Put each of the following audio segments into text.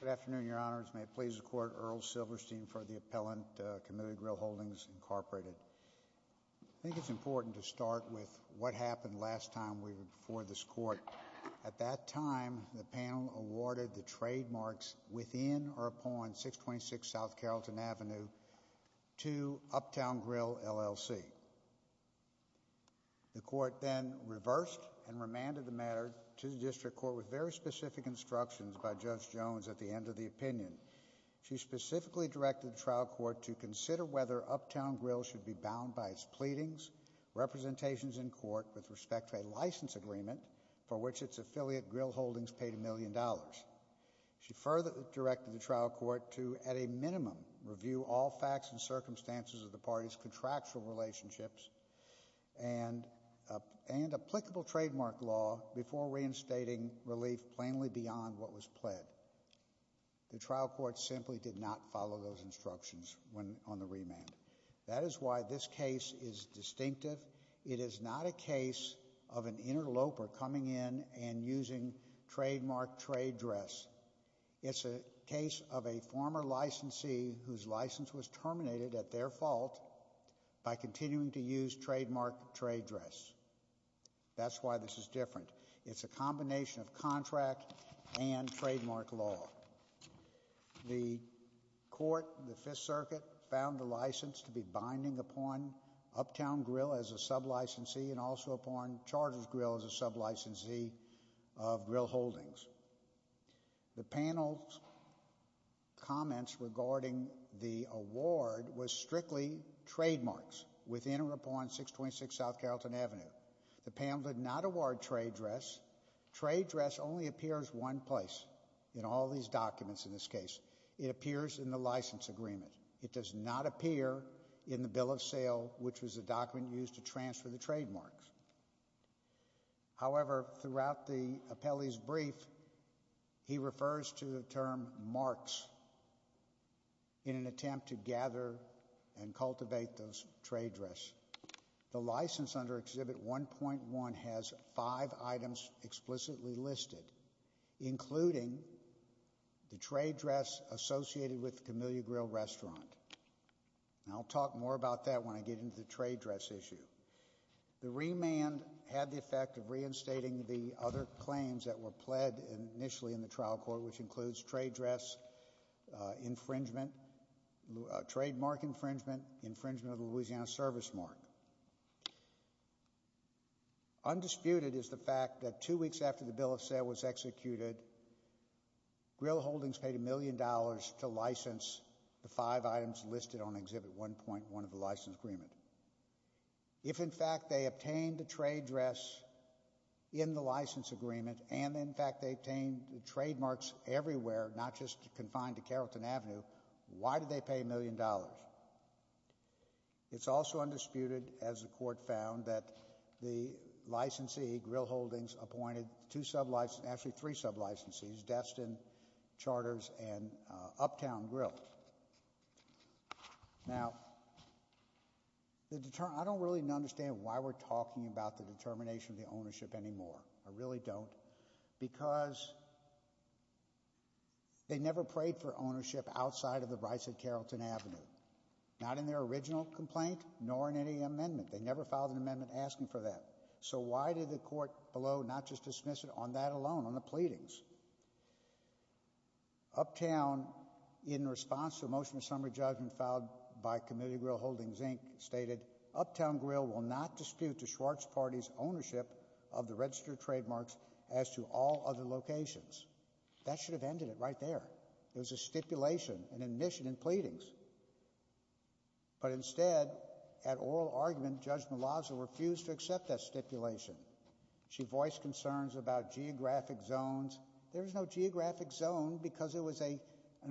Good afternoon, Your Honors. May it please the Court, Earl Silverstein for the Appellant, Committee on Grill Holdings, Incorporated. I think it's important to start with what happened last time we were before this Court. At that time, the panel awarded the trademarks within or upon 626 South Carrollton Avenue to Uptown Grill, L.L.C. The Court then reversed and remanded the matter to the District Court with very specific instructions by Judge Jones at the end of the opinion. She specifically directed the trial court to consider whether Uptown Grill should be bound by its pleadings, representations in court with respect to a license agreement for which its affiliate, Grill Holdings, paid a million dollars. She further directed the trial court to, at a minimum, review all facts and circumstances of the parties' contractual relationships and applicable trademark law before reinstating relief plainly beyond what was pled. The trial court simply did not follow those instructions on the remand. That is why this case is distinctive. It is not a case of an interloper coming in and using trademark trade dress. It's a case of a former licensee whose license was terminated at their fault by continuing to use trademark trade dress. That's why this is different. It's a combination of contract and trademark law. The Court, the Fifth Circuit, found the license to be binding upon Uptown Grill as a sub-licensee and also upon Charter's Grill as a sub-licensee of Grill Holdings. The panel's comments regarding the award with respect was strictly trademarks within or upon 626 South Carrollton Avenue. The panel did not award trade dress. Trade dress only appears one place in all these documents in this case. It appears in the license agreement. It does not appear in the bill of sale, which was a document used to transfer the trademarks. However, throughout the appellee's brief, he refers to the term marks in an attempt to gather and cultivate those trade dress. The license under Exhibit 1.1 has five items explicitly listed, including the trade dress associated with the Camellia Grill restaurant. I'll talk more about that when I get into the trade dress issue. The remand had the effect of reinstating the other claims that were pled initially in the trial court, which includes trade dress infringement, trademark infringement, infringement of the Louisiana service mark. Undisputed is the fact that two weeks after the bill of sale was executed, Grill Holdings paid a million dollars to license the five items listed on Exhibit 1.1 of the license agreement. If, in fact, they obtained the trade dress in the license agreement and, in fact, they obtained the trademarks everywhere, not just confined to Carrollton Avenue, why did they pay a million dollars? It's also undisputed, as the court found, that the licensee, Grill Holdings, appointed two sub-licensees, actually three sub-licensees, Destin, Charters, and Uptown Grill. Now, I don't really understand why we're talking about the determination of the ownership anymore. I really don't. Because they never prayed for ownership outside of the rights at Carrollton Avenue. Not in their original complaint, nor in any amendment. They never filed an amendment asking for that. So why did the court below not just dismiss it on that alone, on the response to a motion of summary judgment filed by Committee Grill Holdings, Inc., stated, Uptown Grill will not dispute the Schwarz Party's ownership of the registered trademarks as to all other locations. That should have ended it right there. It was a stipulation, an admission in pleadings. But instead, at oral argument, Judge Malazzo refused to accept that stipulation. She voiced concerns about geographic zones. There was no geographic zone because it was an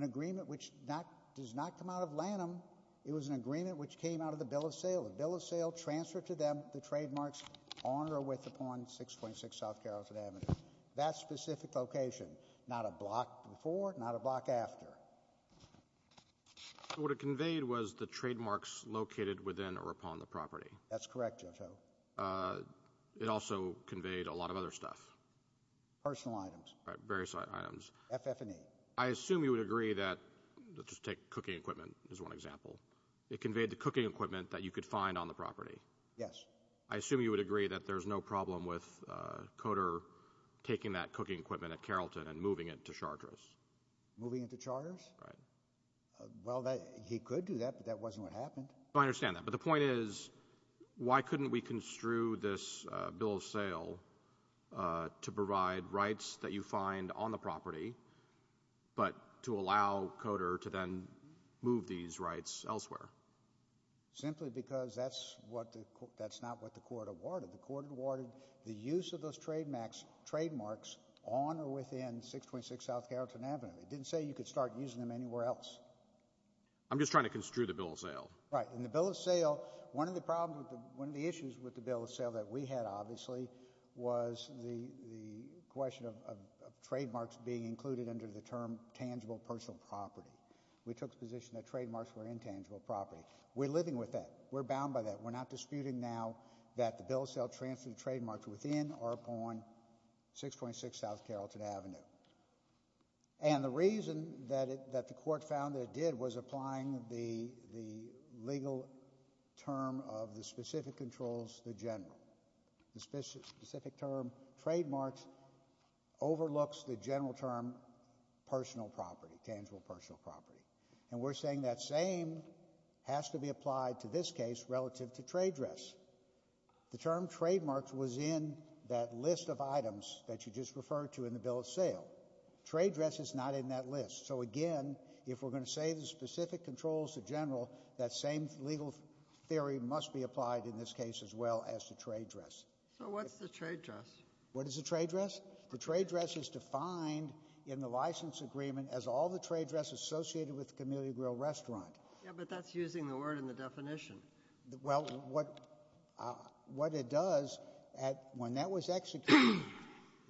agreement which does not come out of Lanham. It was an agreement which came out of the bill of sale. The bill of sale transferred to them the trademarks on or with upon 626 South Carrollton Avenue. That specific location. Not a block before, not a block after. What it conveyed was the trademarks located within or upon the property. That's correct, Judge O. It also conveyed a lot of other stuff. Personal items. Various items. FF&E. I assume you would agree that, let's just take cooking equipment as one example. It conveyed the cooking equipment that you could find on the property. Yes. I assume you would agree that there's no problem with Coder taking that cooking equipment at Carrollton and moving it to Charters. Moving it to Charters? Right. Well, he could do that, but that wasn't what happened. I understand that. But the point is, why couldn't we construe this bill of sale to provide rights that you find on the property, but to allow Coder to then move these rights elsewhere? Simply because that's not what the court awarded. The court awarded the use of those trademarks on or within 626 South Carrollton Avenue. It didn't say you could start using them anywhere else. I'm just trying to construe the bill of sale. Right. In the bill of sale, one of the problems, one of the issues with the bill of sale that we had, obviously, was the question of trademarks being included under the term tangible personal property. We took the position that trademarks were intangible property. We're living with that. We're bound by that. We're not disputing now that the bill of sale transferred trademarks within or upon 626 South Carrollton Avenue. And the reason that the court found that it was applying the legal term of the specific controls, the general. The specific term trademarks overlooks the general term personal property, tangible personal property. And we're saying that same has to be applied to this case relative to trade dress. The term trademarks was in that list of items that you just referred to in the bill of sale. Trade dress is not in that list. So again, if we're going to say the specific controls to general, that same legal theory must be applied in this case as well as to trade dress. So what's the trade dress? What is the trade dress? The trade dress is defined in the license agreement as all the trade dress associated with the Camellia Grill restaurant. Yeah, but that's using the word in the definition. Well, what it does, when that was executed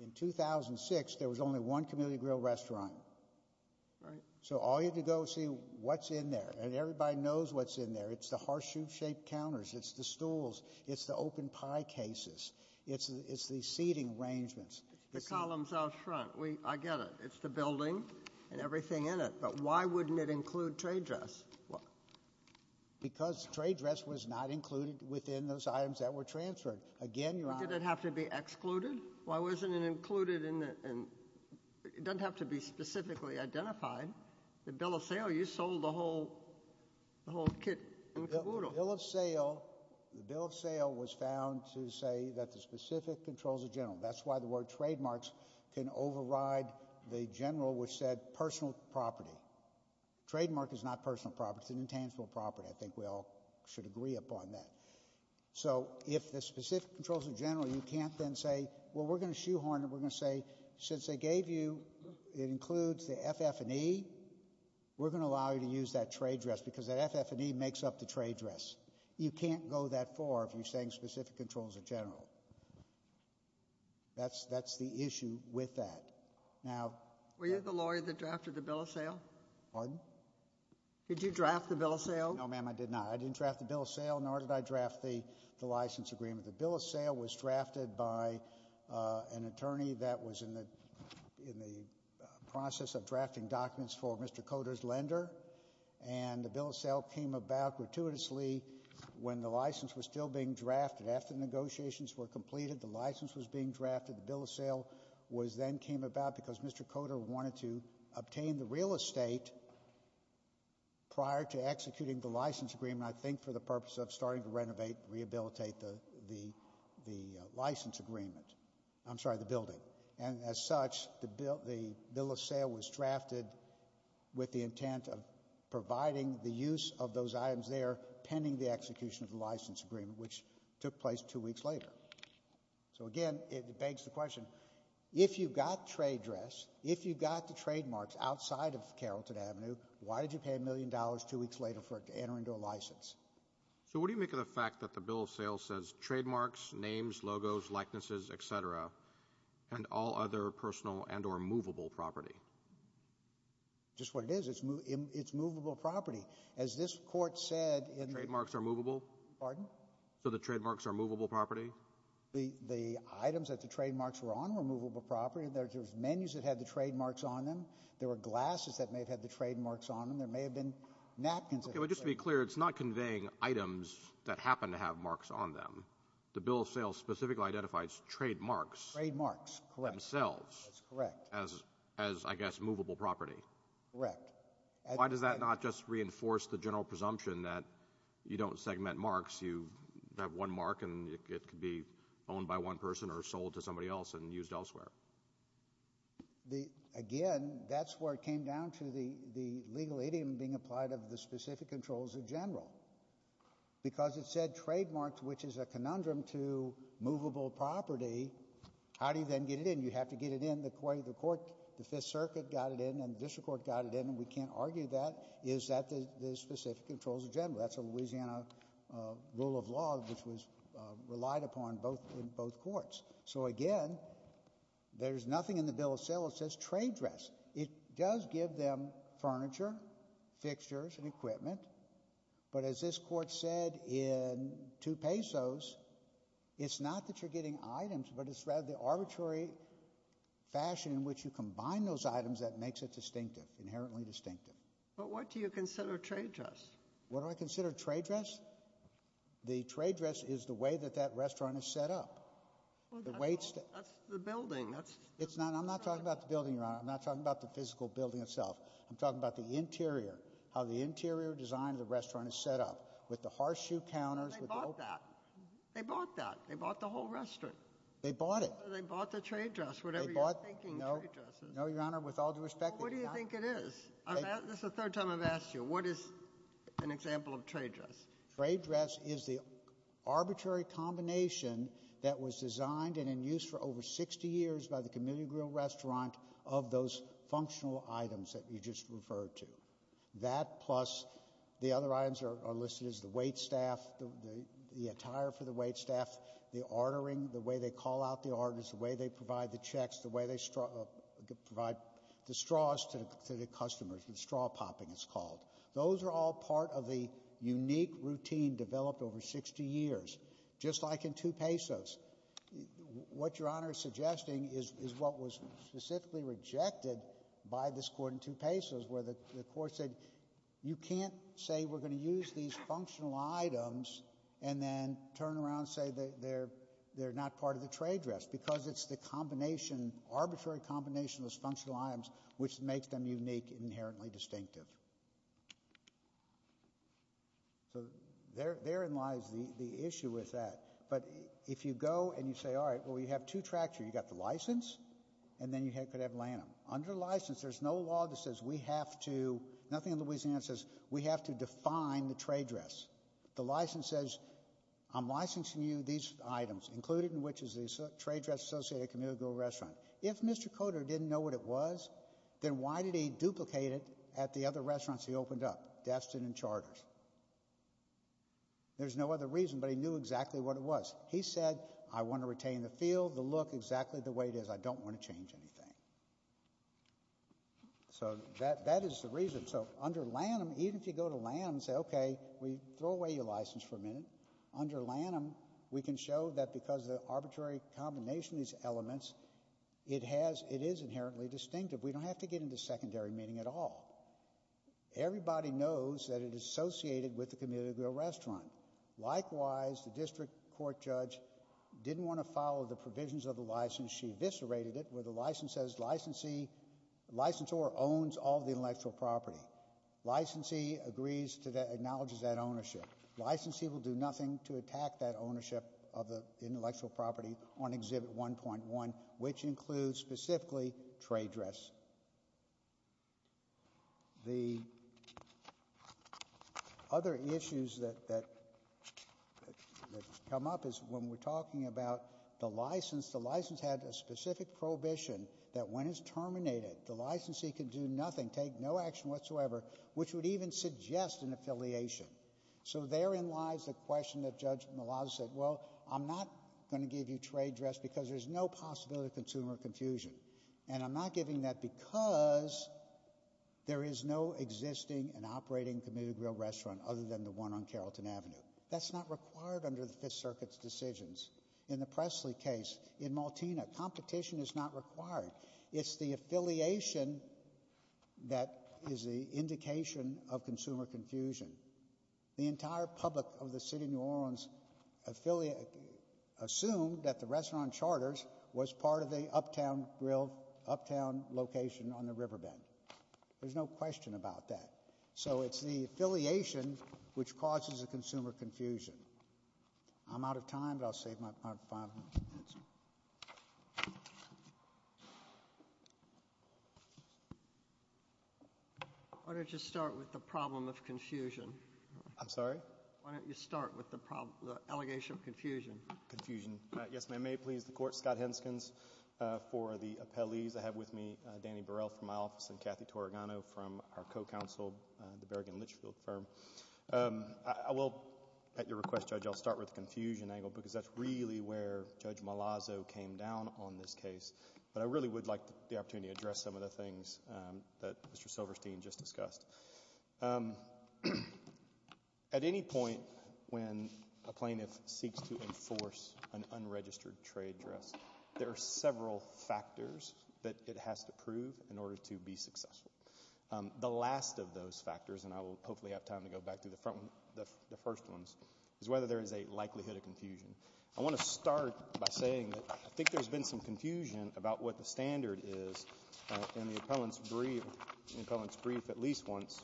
in 2006, there was only one Camellia Grill restaurant. So all you had to go see what's in there. And everybody knows what's in there. It's the horseshoe shaped counters. It's the stools. It's the open pie cases. It's the seating arrangements. It's the columns out front. I get it. It's the building and everything in it. But why wouldn't it include trade dress? Because trade dress was not included within those items that were transferred. Again, Why did it have to be excluded? Why wasn't it included in the... It doesn't have to be specifically identified. The bill of sale, you sold the whole kit and caboodle. The bill of sale was found to say that the specific controls of general. That's why the word trademarks can override the general which said personal property. Trademark is not personal property. It's an intangible property. I think we all should agree upon that. So if the specific controls of general, you can't then say, well, we're going to shoehorn it. We're going to say, since they gave you, it includes the FF&E, we're going to allow you to use that trade dress because that FF&E makes up the trade dress. You can't go that far if you're saying specific controls of general. That's the issue with that. Were you the lawyer that drafted the bill of sale? Pardon? Did you draft the bill of sale? No, ma'am, I did not. I didn't draft the bill of sale, nor did I draft the license agreement. The bill of sale was drafted by an attorney that was in the process of drafting documents for Mr. Coder's lender. The bill of sale came about gratuitously when the license was still being drafted. After negotiations were completed, the license was being drafted. The bill of sale then came about because Mr. Coder wanted to obtain the real estate prior to executing the license agreement, I think for the purpose of starting to renovate, rehabilitate the license agreement. I'm sorry, the building. And as such, the bill of sale was drafted with the intent of providing the use of those items there pending the execution of the license agreement, which took place two weeks later. So again, it begs the question, if you got trade dress, if you got the trademarks outside of Carrollton Avenue, why did you pay a million dollars two weeks later for it to enter into a license? So what do you make of the fact that the bill of sale says trademarks, names, logos, likenesses, et cetera, and all other personal and or movable property? Just what it is. It's movable property. As this court said in the Trademarks are movable? Pardon? So the trademarks are movable property? The items that the trademarks were on were movable property. There's menus that had the trademarks on them. There were glasses that may have had the trademarks on them. There may have been napkins. Okay, but just to be clear, it's not conveying items that happen to have marks on them. The bill of sale specifically identifies trademarks. Trademarks, correct. Themselves. That's correct. As, as, I guess, movable property. Correct. Why does that not just reinforce the general presumption that you don't segment marks, you have one mark and it could be owned by one person or sold to somebody else and used elsewhere? The, again, that's where it came down to the, the legal idiom being applied of the specific controls in general. Because it said trademarks, which is a conundrum to movable property, how do you then get it in? You have to get it in the way the court, the Fifth Circuit got it in and the district court got it in and we can't argue that, is that the, the specific controls in general. That's a Louisiana rule of law which was relied upon both, in and out. So again, there's nothing in the bill of sale that says trade dress. It does give them furniture, fixtures and equipment, but as this court said in two pesos, it's not that you're getting items, but it's rather the arbitrary fashion in which you combine those items that makes it distinctive, inherently distinctive. But what do you consider trade dress? What do I consider trade dress? The trade dress is the way that that restaurant is set up. Well, that's, that's the building. That's, that's the restaurant. It's not, I'm not talking about the building, Your Honor. I'm not talking about the physical building itself. I'm talking about the interior, how the interior design of the restaurant is set up with the horseshoe counters, with the open... They bought that. They bought that. They bought the whole restaurant. They bought it. They bought the trade dress, whatever you're thinking trade dress is. They bought, no, no, Your Honor, with all due respect, they did not... Well, what do you think it is? This is the third time I've asked you. What is an example of trade dress? Trade dress is the arbitrary combination that was designed and in use for over 60 years by the Chameleon Grill Restaurant of those functional items that you just referred to. That plus the other items are listed as the wait staff, the attire for the wait staff, the ordering, the way they call out the orders, the way they provide the checks, the way they straw, provide the straws to the customers, the straw popping it's called. Those are all part of the unique routine developed over 60 years, just like in 2 Pesos. What Your Honor is suggesting is what was specifically rejected by this court in 2 Pesos where the court said, you can't say we're going to use these functional items and then turn around and say they're not part of the trade dress because it's the combination, arbitrary combination of those functional items which makes them unique and inherently distinctive. So, therein lies the issue with that. But if you go and you say, all right, well you have two tracts here. You've got the license and then you could have lanum. Under license there's no law that says we have to, nothing in Louisiana says we have to define the trade dress. The license says I'm licensing you these items, included in which is the trade dress associated with a commercial restaurant. If Mr. Coder didn't know what it was, then why did he duplicate it at the other restaurants he opened up, Destin and Charters? There's no other reason, but he knew exactly what it was. He said, I want to retain the feel, the look, exactly the way it is. I don't want to change anything. So that is the reason. So under lanum, even if you go to lanum and say, okay, we throw away your license for a minute, under lanum we can show that because of the arbitrary combination of these elements, it has, it is inherently distinctive. We don't have to get into secondary meaning at all. Everybody knows that it is associated with the community grill restaurant. Likewise, the district court judge didn't want to follow the provisions of the license. She eviscerated it where the license says licensee, licensor owns all the intellectual property. Licensee acknowledges that ownership. Licensee will do nothing to attack that ownership of the intellectual property on Exhibit 1.1, which includes specifically trade dress. The other issues that come up is when we're talking about the license, the license had a specific prohibition that when it's terminated, the licensee can do nothing, take no action whatsoever, which would even suggest an affiliation. So therein lies the question that Judge Malauulu said, well, I'm not going to give you trade dress because there's no possibility of consumer confusion. And I'm not giving that because there is no existing and operating community grill restaurant other than the one on Carrollton Avenue. That's not required under the Fifth Circuit's decisions. In the Presley case, in Maltina, competition is not required. It's the affiliation that is the indication of consumer confusion. The entire public of the City of New Orleans assumed that the restaurant on Charters was part of the uptown grill, uptown location on the riverbed. There's no question about that. So it's the affiliation which causes the consumer confusion. I'm out of time, but I'll save my time for five minutes. Why don't you start with the problem of confusion? I'm sorry? Why don't you start with the allegation of confusion? Confusion. Yes, ma'am. May it please the Court? Scott Henskins for the appellees. I have with me Danny Burrell from my office and Kathy Torrigano from our co-counsel, the Berrigan Litchfield firm. I will, at your request, Judge, I'll start with the confusion angle because that's really where Judge Malazzo came down on this case. But I really would like the opportunity to address some of the things that Mr. Silverstein just discussed. At any point when a plaintiff seeks to enforce an unregistered trade dress, there are several factors that it has to prove in order to be successful. The last of those factors, and I will hopefully have time to go back to the first ones, is whether there is a likelihood of confusion. I want to start by saying that I think there's been some confusion about what the standard is in the appellant's brief at least once.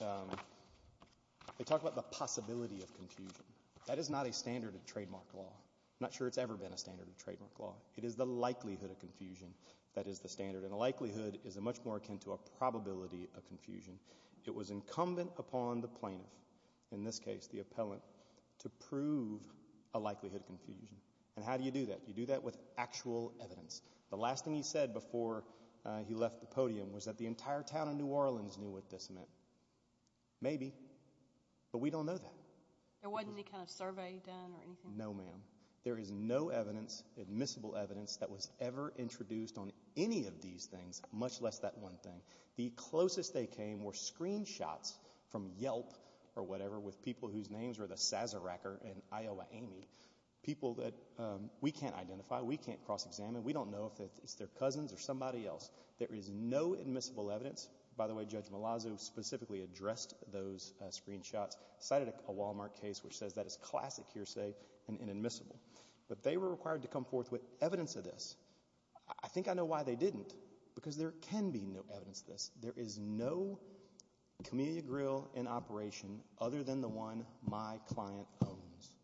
They talk about the possibility of confusion. That is not a standard of trademark law. I'm not sure it's ever been a standard of trademark law. It is the likelihood of confusion that is the standard, and the likelihood is much more akin to a probability of confusion. It was incumbent upon the plaintiff, in this case the appellant, to prove a likelihood of confusion. And how do you do that? You do that with actual evidence. The last thing he said before he left the podium was that the entire town of New Orleans knew what this meant. Maybe, but we don't know that. There wasn't any kind of survey done or anything? No, ma'am. There is no evidence, admissible evidence, that was ever introduced on any of these things, much less that one thing. The closest they came were screenshots from Yelp or whatever with people whose names were the Sazeracker and Iowa Amy, people that we can't identify, we can't cross-examine, we don't know if it's their cousins or somebody else. There is no admissible evidence. By the way, Judge Malazzo specifically addressed those screenshots, cited a Walmart case which says that is classic hearsay and inadmissible. But they were required to come forth with evidence of this. I think I know why they didn't, because there can be no evidence of this. There is no Camellia Grill in operation other than the one my client owns.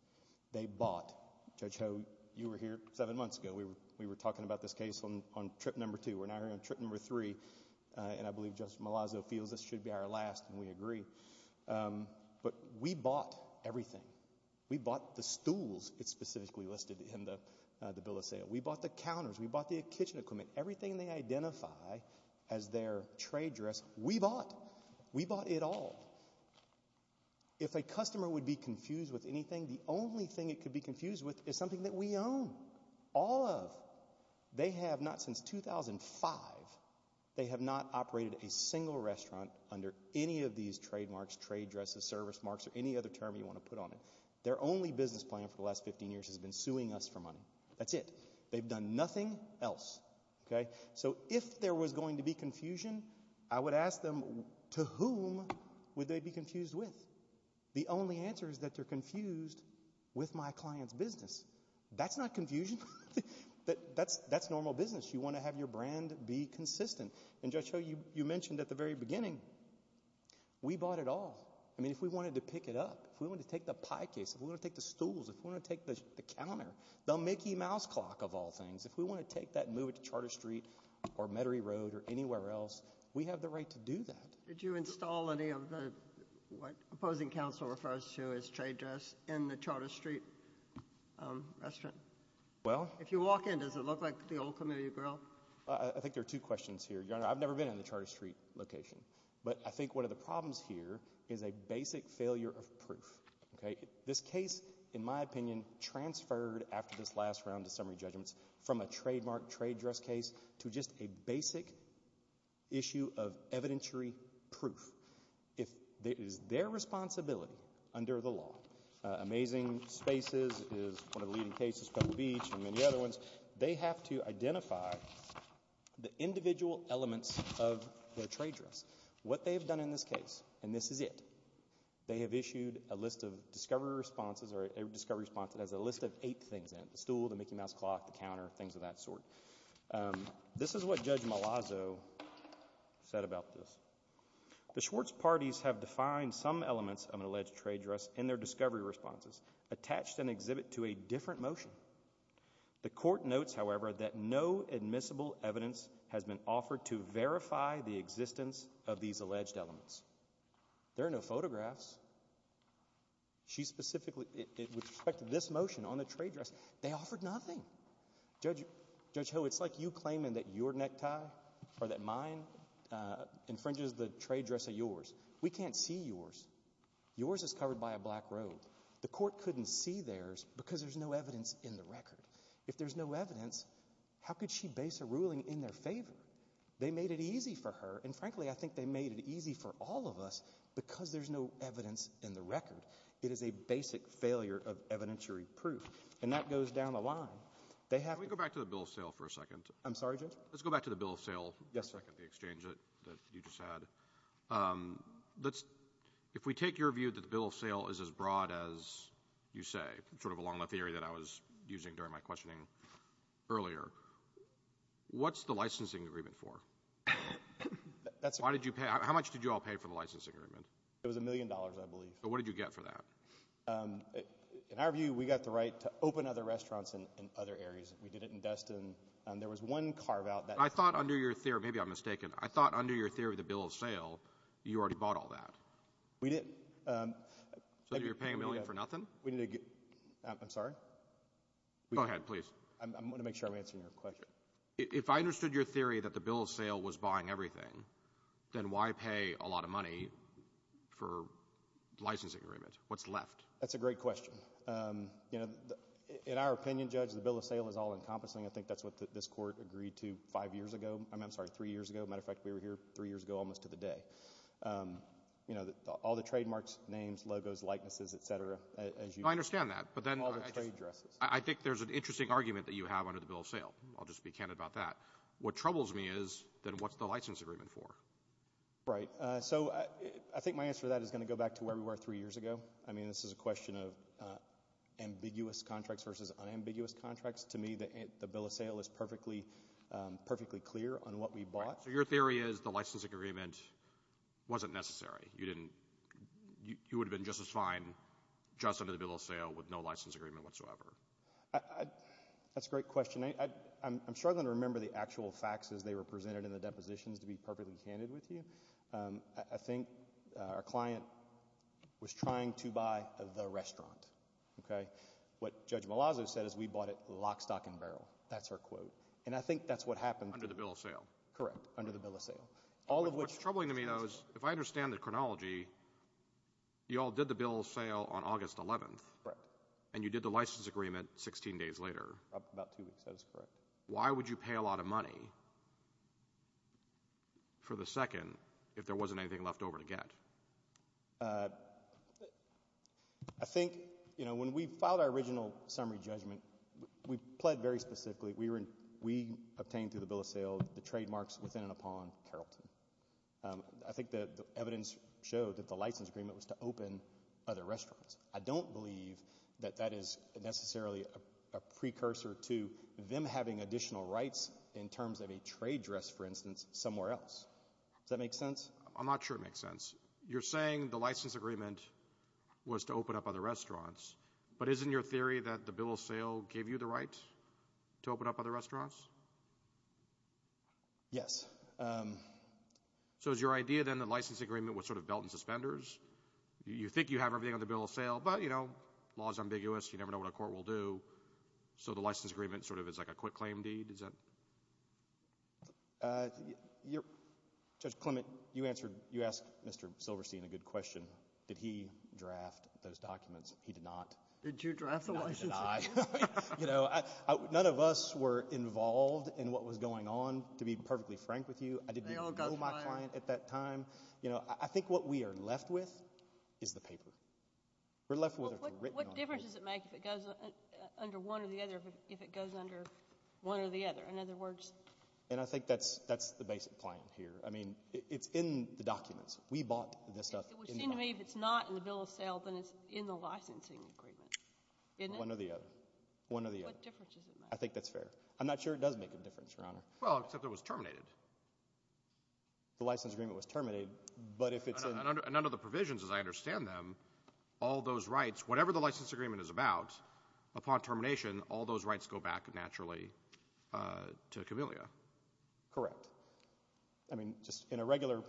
They bought, Judge Ho, you were here seven months ago, we were talking about this case on trip number two, we're now here on trip number three, and I believe Judge Malazzo feels this should be our last, and we agree. But we bought everything. We bought the stools, it's specifically listed in the bill of sale. We bought the counters. We bought the kitchen equipment. Everything they identify as their trade dress, we bought. We bought it all. If a customer would be confused with anything, the only thing it could be confused with is something that we own. All of. They have not, since 2005, they have not operated a single restaurant under any of these trademarks, trade dresses, service marks or any other term you want to put on it. Their only business plan for the last 15 years has been suing us for money. That's it. They've done nothing else. So if there was going to be confusion, I would ask them, to whom would they be confused with? The only answer is that they're confused with my client's business. That's not confusion. That's normal business. You want to have your brand be consistent. And Judge Ho, you mentioned at the very beginning, we bought it all. I mean, if we wanted to pick it up, if we wanted to take the pie case, if we wanted to take the stools, if we wanted to take the counter, the Mickey Mouse clock of all things, if we wanted to take that and move it to Charter Street or Metairie Road or anywhere else, we have the right to do that. Did you install any of the, what opposing counsel refers to as trade dress, in the Charter Street restaurant? Well. If you walk in, does it look like the old community grill? I think there are two questions here. Your Honor, I've never been in the Charter Street location, but I think one of the problems here is a basic failure of proof. This case, in my opinion, transferred after this last round of summary judgments from a trademark trade dress case to just a basic issue of evidentiary proof. It is their responsibility under the law. Amazing Spaces is one of the leading cases, Pebble Beach, and many other ones. They have to identify the individual elements of their trade dress. What they've done in this case, and this is it, they have issued a list of discovery responses, or a discovery response that has a list of eight things in it. The stool, the Mickey Mouse clock, the counter, things of that sort. This is what Judge Malazzo said about this. The Schwartz parties have defined some elements of an alleged trade dress in their discovery responses, attached an exhibit to a different motion. The court notes, however, that no admissible evidence has been offered to verify the existence of these alleged elements. There are no photographs. She specifically, with respect to this motion on the trade dress, they offered nothing. Judge Ho, it's like you claiming that your necktie or that mine infringes the trade dress of yours. We can't see yours. Yours is covered by a black robe. The court couldn't see theirs because there's no evidence in the record. If there's no evidence, how could she base a ruling in their favor? They made it easy for her, and frankly, I think they made it easy for all of us because there's no evidence in the record. It is a basic failure of evidentiary proof. And that goes down the line. They have to go back to the bill of sale for a second. I'm sorry, Judge? Let's go back to the bill of sale for a second that you just had. If we take your view that the bill of sale is as broad as you say, sort of along the theory that I was using during my questioning earlier, what's the licensing agreement for? Why did you pay? How much did you all pay for the licensing agreement? It was a million dollars, I believe. So what did you get for that? In our view, we got the right to open other restaurants in other areas. We did it in Destin. There your theory of the bill of sale, you already bought all that. We didn't. So you're paying a million for nothing? I'm sorry? Go ahead, please. I'm going to make sure I'm answering your question. If I understood your theory that the bill of sale was buying everything, then why pay a lot of money for licensing agreement? What's left? That's a great question. In our opinion, Judge, the bill of sale is all-encompassing. I think that's what this is a question of ambiguous contracts versus unambiguous contracts. To me, the bill of sale is perfectly clear on what we bought. So your theory is the licensing agreement wasn't necessary. You would have been just as fine just under the bill of sale with no license agreement whatsoever. That's a great question. I'm struggling to remember the actual facts as they were presented in the depositions to be perfectly candid with you. I think our client was trying to buy the restaurant. What Judge Malazzo said is we bought it lock, stock and barrel. That's her quote. I think that's what happened. Under the bill of sale? Correct. Under the bill of sale. What's troubling to me though is if I understand the chronology, you all did the bill of sale on August 11th. Correct. And you did the license agreement 16 days later. About two weeks. That is correct. Why would you pay a lot of money for the second if there wasn't anything left over to get? I think when we filed our original summary judgment, we pled very specifically. We obtained through the bill of sale the trademarks within and upon Carrollton. I think the evidence showed that the license agreement was to open other restaurants. I don't believe that that is necessarily a precursor to them having additional rights in terms of a trade dress, for instance, somewhere else. Does that make sense? I'm not sure it makes sense. You're saying the license agreement was to open up other restaurants, but isn't your theory that the bill of sale gave you the right to open up other restaurants? Yes. So is your idea then that the license agreement was sort of belt and suspenders? You think you have everything under the bill of sale, but you know, law is ambiguous. You never know what a court will do. So the license agreement sort of is like a quick claim deed, is that? Judge Clement, you asked Mr. Silverstein a bout the documents. He did not. Did you draft the license agreement? No, I did not. None of us were involved in what was going on, to be perfectly frank with you. I didn't know my client at that time. I think what we are left with is the paper. We're left with it written on paper. What difference does it make if it goes under one or the other, if it goes under one or the other? In other words? And I think that's the basic claim here. I mean, it's in the documents. We bought this stuff. It would seem to me if it's not in the bill of sale, then it's in the licensing agreement, isn't it? One or the other. One or the other. What difference does it make? I think that's fair. I'm not sure it does make a difference, Your Honor. Well, except it was terminated. The license agreement was terminated, but if it's in... And under the provisions, as I understand them, all those rights, whatever the license agreement is about, upon termination, all those rights go back naturally to CAMILIA. Correct. I mean, just in a regular,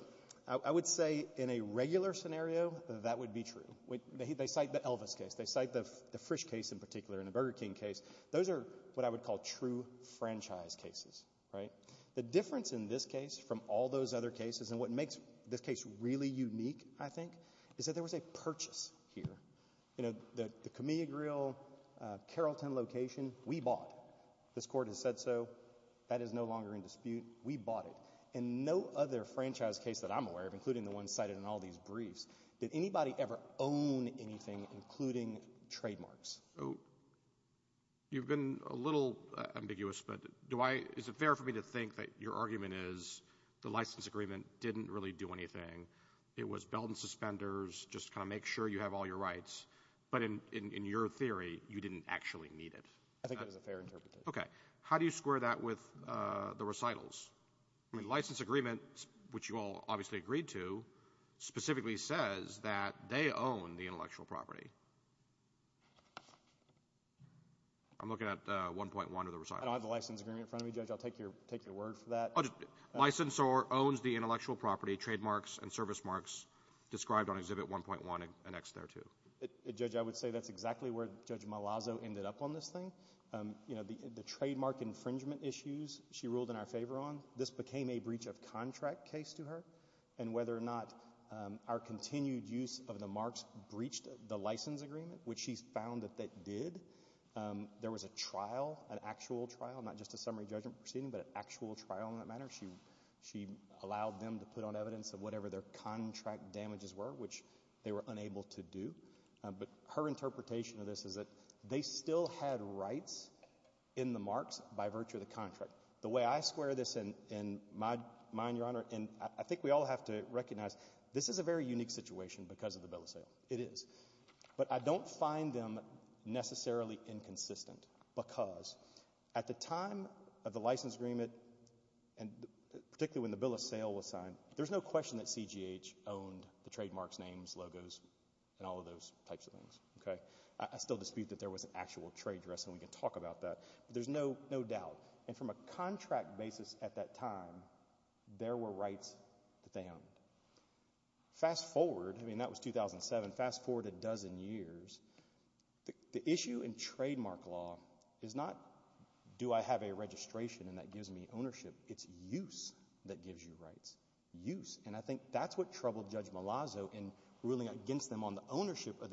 I would say in a regular scenario, that would be true. They cite the Elvis case. They cite the Frisch case in particular and the Burger King case. Those are what I would call true franchise cases, right? The difference in this case from all those other cases, and what makes this case really unique, I think, is that there was a purchase here. You know, the CAMILIA Grill, Carrollton location, we bought. This Court has said so. That is no longer in dispute. We bought it. And no other franchise case that I'm aware of, including the ones cited in all these briefs, did anybody ever own anything, including trademarks? You've been a little ambiguous, but is it fair for me to think that your argument is the license agreement didn't really do anything. It was belt and suspenders, just to kind of make sure you have all your rights. But in your theory, you didn't actually need it. I think that is a fair interpretation. Okay. How do you square that with the recitals? I mean, the license agreement, which you all obviously agreed to, specifically says that they own the intellectual property. I'm looking at 1.1 of the recitals. I don't have the license agreement in front of me, Judge. I'll take your word for that. Licensor owns the intellectual property, trademarks and service marks described on Exhibit 1.1 and X there, too. Judge, I would say that's exactly where Judge Malazzo ended up on this thing. You know, the trademark infringement issues she ruled in our favor on, this became a breach of contract case to her. And whether or not our continued use of the marks breached the license agreement, which she found that they did, there was a trial, an actual trial, not just a summary judgment proceeding, but an actual trial in that matter. She allowed them to put on evidence of whatever their contract damages were, which they were unable to do. But her interpretation of this is that they still had rights in the marks by virtue of the contract. The way I square this in my mind, Your Honor, and I think we all have to recognize, this is a very unique situation because of the bill of sale. It is. But I don't find them necessarily inconsistent because at the time of the license agreement, particularly when the bill of sale was signed, there's no question that CGH owned the trademarks, names, logos, and all of those types of things. Okay? I still dispute that there was an actual trade dress and we can talk about that, but there's no doubt. And from a contract basis at that time, there were rights that they owned. Fast forward, I mean, that was 2007, fast forward a dozen years, the issue in trademark law is not, do I have a registration and that gives me ownership? It's use that gives you rights. Use. And I think that's what troubled Judge Malazzo's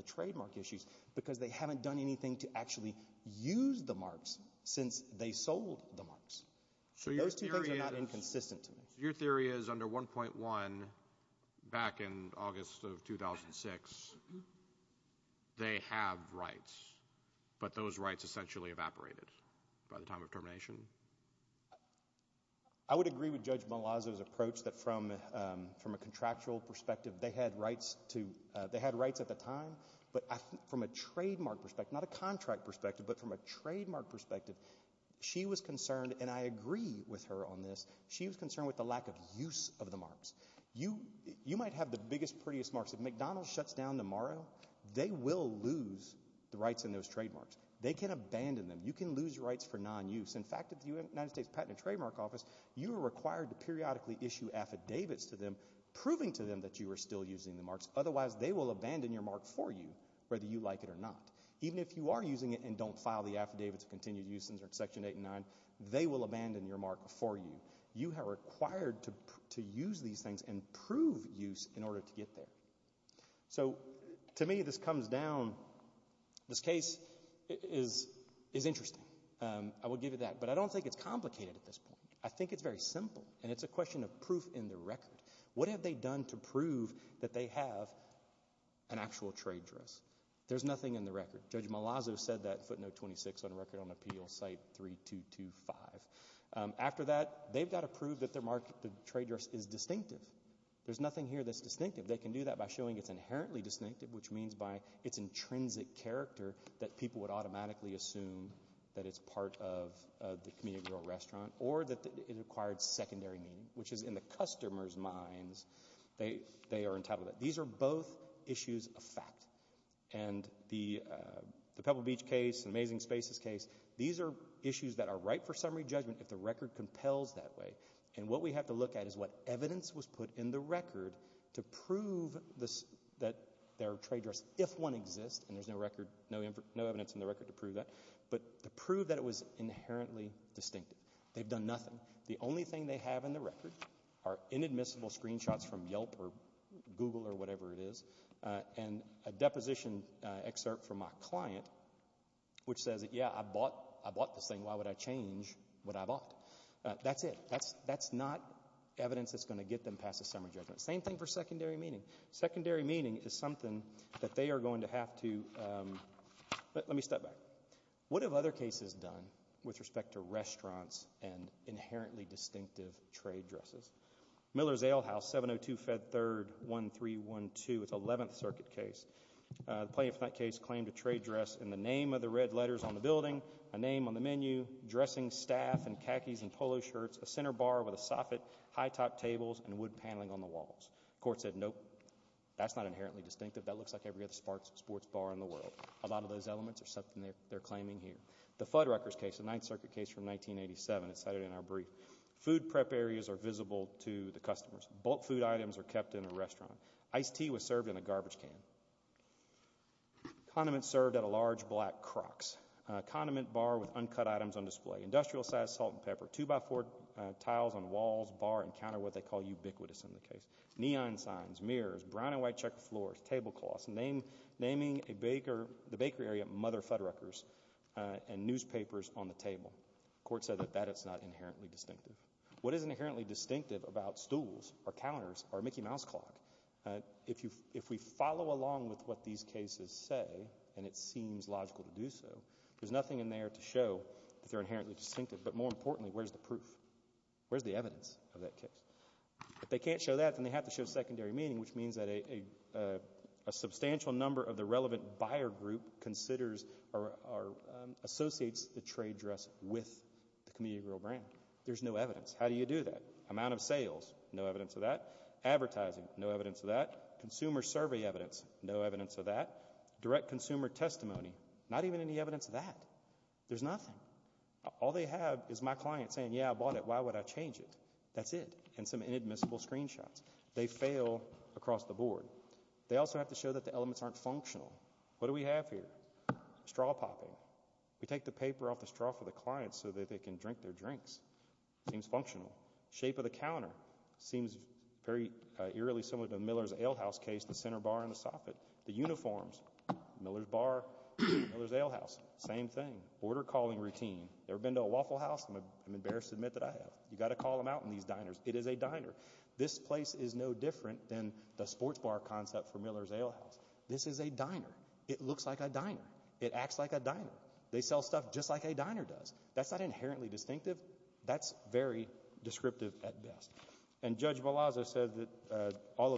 trademark issues because they haven't done anything to actually use the marks since they sold the marks. So those two things are not inconsistent to me. So your theory is under 1.1 back in August of 2006, they have rights, but those rights essentially evaporated by the time of termination? I would agree with Judge Malazzo's approach that from a contractual perspective, they had rights at the time, but from a trademark perspective, not a contract perspective, but from a trademark perspective, she was concerned, and I agree with her on this, she was concerned with the lack of use of the marks. You might have the biggest, prettiest marks. If McDonald's shuts down tomorrow, they will lose the rights in those trademarks. They can abandon them. You can lose rights for non-use. In fact, at the United States Patent and Trademark Office, you are required to periodically issue affidavits to them, proving to them that you are still using the marks. Otherwise, they will abandon your mark for you, whether you like it or not. Even if you are using it and don't file the affidavits of continued use under Section 8 and 9, they will abandon your mark for you. You are required to use these things and prove use in order to get there. So to me, this comes down, this case is interesting. I will give you that. But I don't think it's complicated at this point. I think it's very simple, and it's a question of proof in the record. What have they done to prove that they have an actual trade dress? There's nothing in the record. Judge Malazzo said that in Footnote 26 on Record on Appeal, Site 3225. After that, they've got to prove that their mark, the trade dress, is distinctive. There's nothing here that's distinctive. They can do that by showing it's inherently distinctive, which means by its intrinsic character that people would automatically assume that it's part of the community rural restaurant, or that it acquired secondary meaning, which is in the customer's minds, they are entitled to that. These are both issues of fact. And the Pebble Beach case, the Amazing Spaces case, these are issues that are ripe for summary judgment if the record compels that way. And what we have to look at is what evidence was put in the record to prove that their trade dress, if one exists, and there's no evidence in the record to prove that, but to prove that it was inherently distinctive. They've done nothing. The only thing they have in the record are inadmissible screenshots from Yelp or Google or whatever it is, and a deposition excerpt from my client which says that, yeah, I bought this thing. Why would I change what I bought? That's it. That's not evidence that's going to get them past the summary judgment. Same thing for secondary meaning. Secondary meaning is something that they are going to have to, let me step back. What have other cases done with respect to restaurants and inherently distinctive trade dresses? Miller's Ale House, 702 Fed 3rd, 1312, it's 11th Circuit case. The plaintiff in that case claimed a trade dress in the name of the red letters on the building, a name on the menu, dressing staff in khakis and polo shirts, a center bar with a soffit, high top tables, and wood bar, inherently distinctive. That looks like every other sports bar in the world. A lot of those elements are something they're claiming here. The Fuddruckers case, the 9th Circuit case from 1987, it's cited in our brief. Food prep areas are visible to the customers. Bulk food items are kept in a restaurant. Iced tea was served in a garbage can. Condiments served at a large black Crocs. Condiment bar with uncut items on display. Industrial size salt and pepper. Two by four tiles on walls, bar, and counter, what they call ubiquitous in the case. Neon signs, mirrors, brown and white checker floors, tablecloths, naming a baker, the bakery area, Mother Fuddruckers, and newspapers on the table. The court said that that is not inherently distinctive. What is inherently distinctive about stools or counters or Mickey Mouse clock? If we follow along with what these cases say, and it seems logical to do so, there's nothing in there to show that they're inherently distinctive, but more importantly, where's the proof? Where's the evidence of that case? If they can't show that, then they have to show secondary meaning, which means that a substantial number of the relevant buyer group considers or associates the trade dress with the commuter grill brand. There's no evidence. How do you do that? Amount of sales, no evidence of that. Advertising, no evidence of that. Consumer survey evidence, no evidence of that. Direct consumer testimony, not even any evidence of that. There's nothing. All they have is my client saying, yeah, I bought it, why would I change it? That's it, and some inadmissible screenshots. They fail across the board. They also have to show that the elements aren't functional. What do we have here? Straw popping. We take the paper off the straw for the client so that they can drink their drinks. Seems functional. Shape of the counter seems very eerily similar to the Miller's Alehouse case, the center bar and the soffit. The uniforms, Miller's Bar, Miller's Alehouse, same thing. Order calling routine. Ever been to a Waffle House? I'm embarrassed to admit that I have. You've got to call them out in these diners. It is a diner. This place is no different than the sports bar concept for Miller's Alehouse. This is a diner. It looks like a diner. It acts like a diner. They sell stuff just like a diner does. That's not inherently distinctive. That's very descriptive at best. And Judge says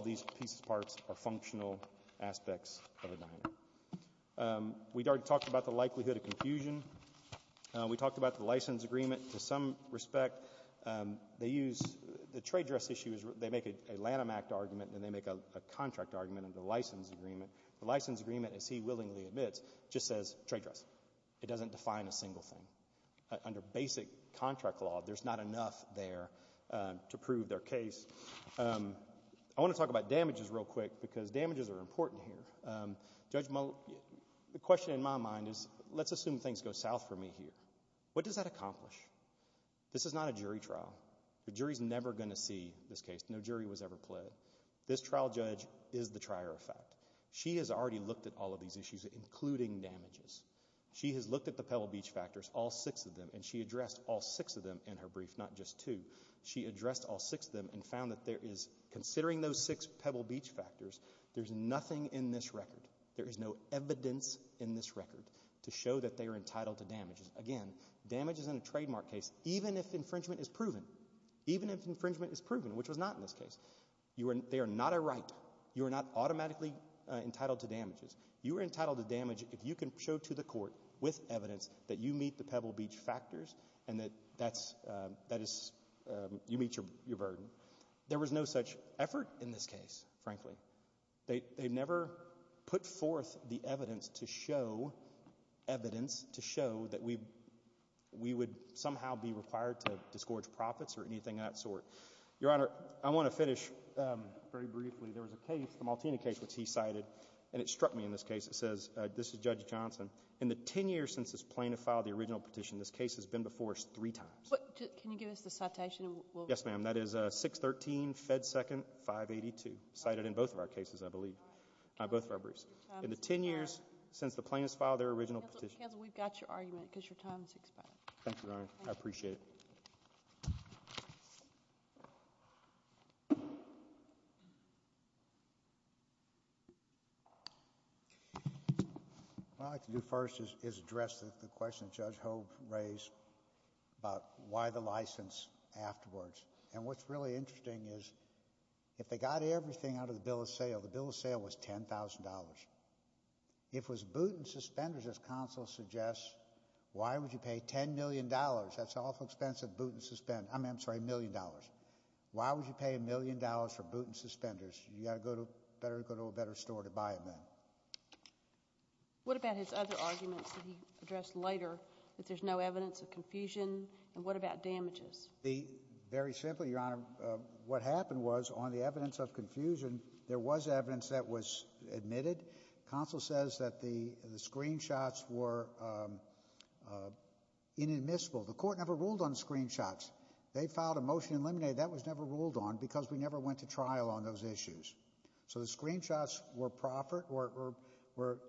these pieces, parts, are functional aspects of a diner. We talked about the likelihood of confusion. We talked about the license agreement. To some respect, they use the trade dress issue. They make a Lanham Act argument and they make a contract argument under the license agreement. The license agreement, as he willingly admits, just says trade dress. It doesn't define a single thing. Under basic contract law, there's not enough there to prove their case. I want to talk about damages real quick because damages are important here. Judge Miller, the question in my mind is, let's assume things go south for me here. What does that accomplish? This is not a jury trial. The jury's never going to see this case. No jury was ever pled. This trial judge is the trier of fact. She has already looked at all of these issues, including damages. She has looked at the Pebble Beach factors, all six of them, and she addressed all six of them in her brief, not just two. She addressed all six of them and found that there is, considering those six Pebble Beach factors, there's nothing in this record, there is no evidence in this record to show that they are entitled to damages. Again, damages in a trademark case, even if infringement is proven, even if infringement is proven, which was not in this case, they are not a right. You are not automatically entitled to damages. You are entitled to damage if you can show to the court with evidence that you meet the Pebble Beach factors and that that is, you meet your burden. There was no such effort in this case, frankly. They never put forth the evidence to show evidence to show that we would somehow be required to disgorge profits or anything of that sort. Your Honor, I want to finish very briefly. There was a case, the Maltina case, which he cited, and it struck me in this case. It was Judge Johnson. In the ten years since this plaintiff filed the original petition, this case has been before us three times. But can you give us the citation? Yes, ma'am. That is 613 Fed Second 582, cited in both of our cases, I believe, both of our briefs. In the ten years since the plaintiff filed their original petition. Counsel, we've got your argument because your time is expired. Thank you, Your Honor. I appreciate it. What I'd like to do first is address the question that Judge Hogue raised about why the license afterwards. And what's really interesting is if they got everything out of the bill of sale, the bill of sale was $10,000. If it was boot and suspenders, as counsel suggests, why would you pay $10 million? That's an awful expensive boot and suspenders, I'm sorry, $1 million. Why would you pay $1 million for boot and suspenders? You got to go to a better store to buy it then. What about his other arguments that he addressed later, that there's no evidence of confusion? And what about damages? Very simply, Your Honor, what happened was, on the evidence of confusion, there was evidence that was admitted. Counsel says that the screenshots were inadmissible. The court never ruled on screenshots. They filed a motion to eliminate it. That was never ruled on because we never went to trial on those issues. So the screenshots were proffered, were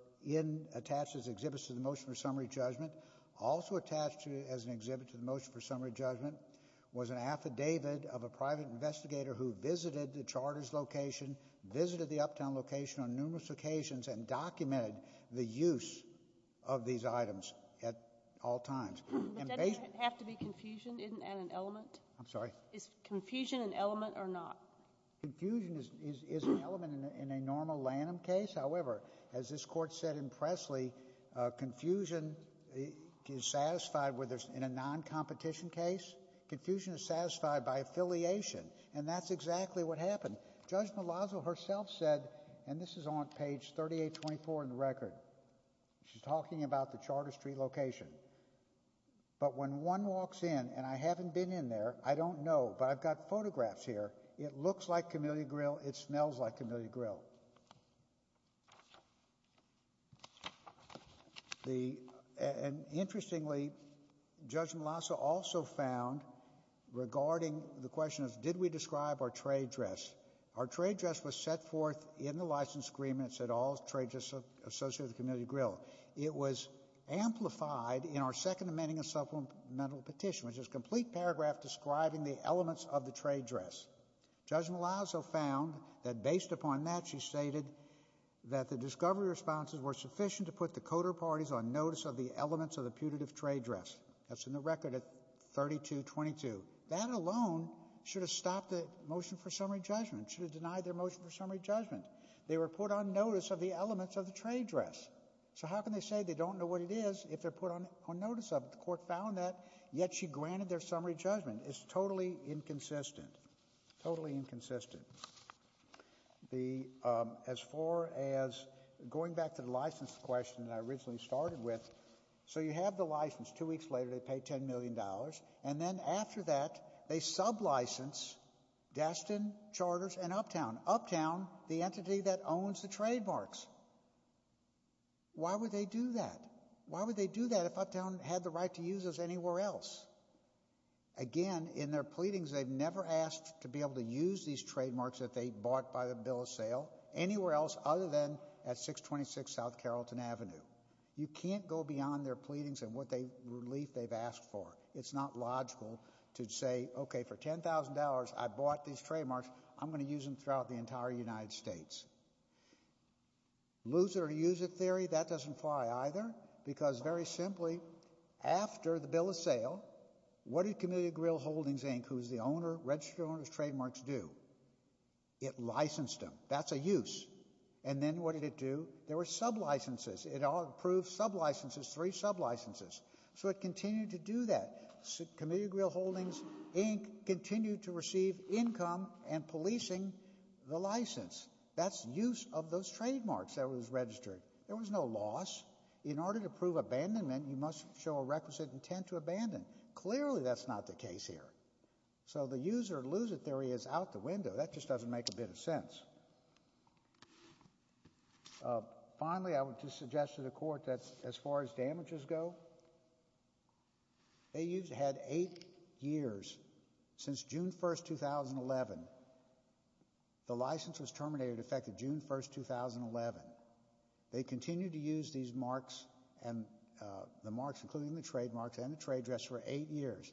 attached as exhibits to the motion for summary judgment. Also attached as an exhibit to the motion for summary judgment was an affidavit of a private investigator who visited the Charter's location, visited the Uptown location on numerous occasions, and documented the use of these items at all times. But doesn't that have to be confusion and an element? I'm sorry? Is confusion an element or not? Confusion is an element in a normal Lanham case. However, as this Court said in Presley, confusion is satisfied whether it's in a non-competition case. Confusion is satisfied by affiliation. And that's exactly what happened. Judge Malazzo herself said, and this is on page 3824 in the record, she's talking about the Charter Street location. But when one walks in, and I haven't been in there, I don't know, but I've got photographs here, it looks like Camellia Grill, it smells like Camellia Grill. And interestingly, Judge Malazzo also found, regarding the question of did we describe our trade dress, our trade dress was set forth in the license agreement, it said all trade dress associated with Camellia Grill. It was amplified in our second amending of supplemental petition, which is a complete paragraph describing the elements of the trade dress. Judge Malazzo found that based upon that, she stated that the discovery responses were sufficient to put the coder parties on notice of the elements of the putative trade dress. That's in the record at 3222. That alone should have stopped the motion for summary judgment, should have denied their motion for summary judgment. They were put on notice of the elements of the trade dress. So how can they say they don't know what it is if they're put on notice of it? The court found that, yet she granted their summary judgment. It's totally inconsistent. Totally inconsistent. As far as going back to the license question that I originally started with, so you have the license, two weeks later they pay $10 million, and then after that, they sub-license Destin, Charters, and Uptown. Uptown, the entity that owns the trademarks. Why would they do that? Why would they do that if Uptown had the right to use those anywhere else? Again, in their pleadings, they've never asked to be able to use these trademarks that they bought by the bill of sale anywhere else other than at 626 South Carrollton Avenue. You can't go beyond their pleadings and what they, relief they've asked for. It's not logical to say, okay, for $10,000, I bought these trademarks, I'm going to use them throughout the entire United States. Lose it or use it theory, that doesn't fly either, because very simply, after the bill of sale, what did Community Grille Holdings, Inc., who's the owner, registered owner of the trademarks, do? It licensed them. That's a use. And then what did it do? There were sub-licenses. It approved sub-licenses, three sub-licenses. So it continued to do that. Community Grille Holdings, Inc., continued to receive income and policing the license. That's use of those trademarks that was registered. There was no loss. In order to prove abandonment, you must show a requisite intent to abandon. Clearly that's not the case here. So the use or lose it theory is out the window. That just doesn't make a bit of sense. Finally, I would just suggest to the court that as far as damages go, they had eight years since June 1, 2011. The license was terminated effective June 1, 2011. They continued to use these marks and the marks, including the trademarks and the trade address, for eight years.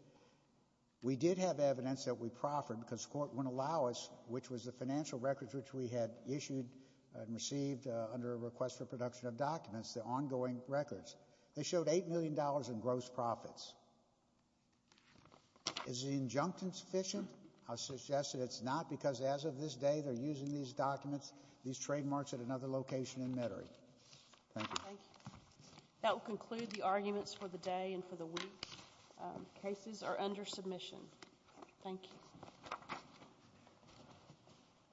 We did have evidence that we proffered, because the court wouldn't allow us, which was the financial records which we had issued and received under a request for production of documents, the ongoing records. They showed $8 million in gross profits. Is the injunction sufficient? I suggest that it's not, because as of this day, they're using these documents, these trademarks, at another location in Metairie. Thank you. Thank you. That will conclude the arguments for the day and for the week. Cases are under submission. Thank you.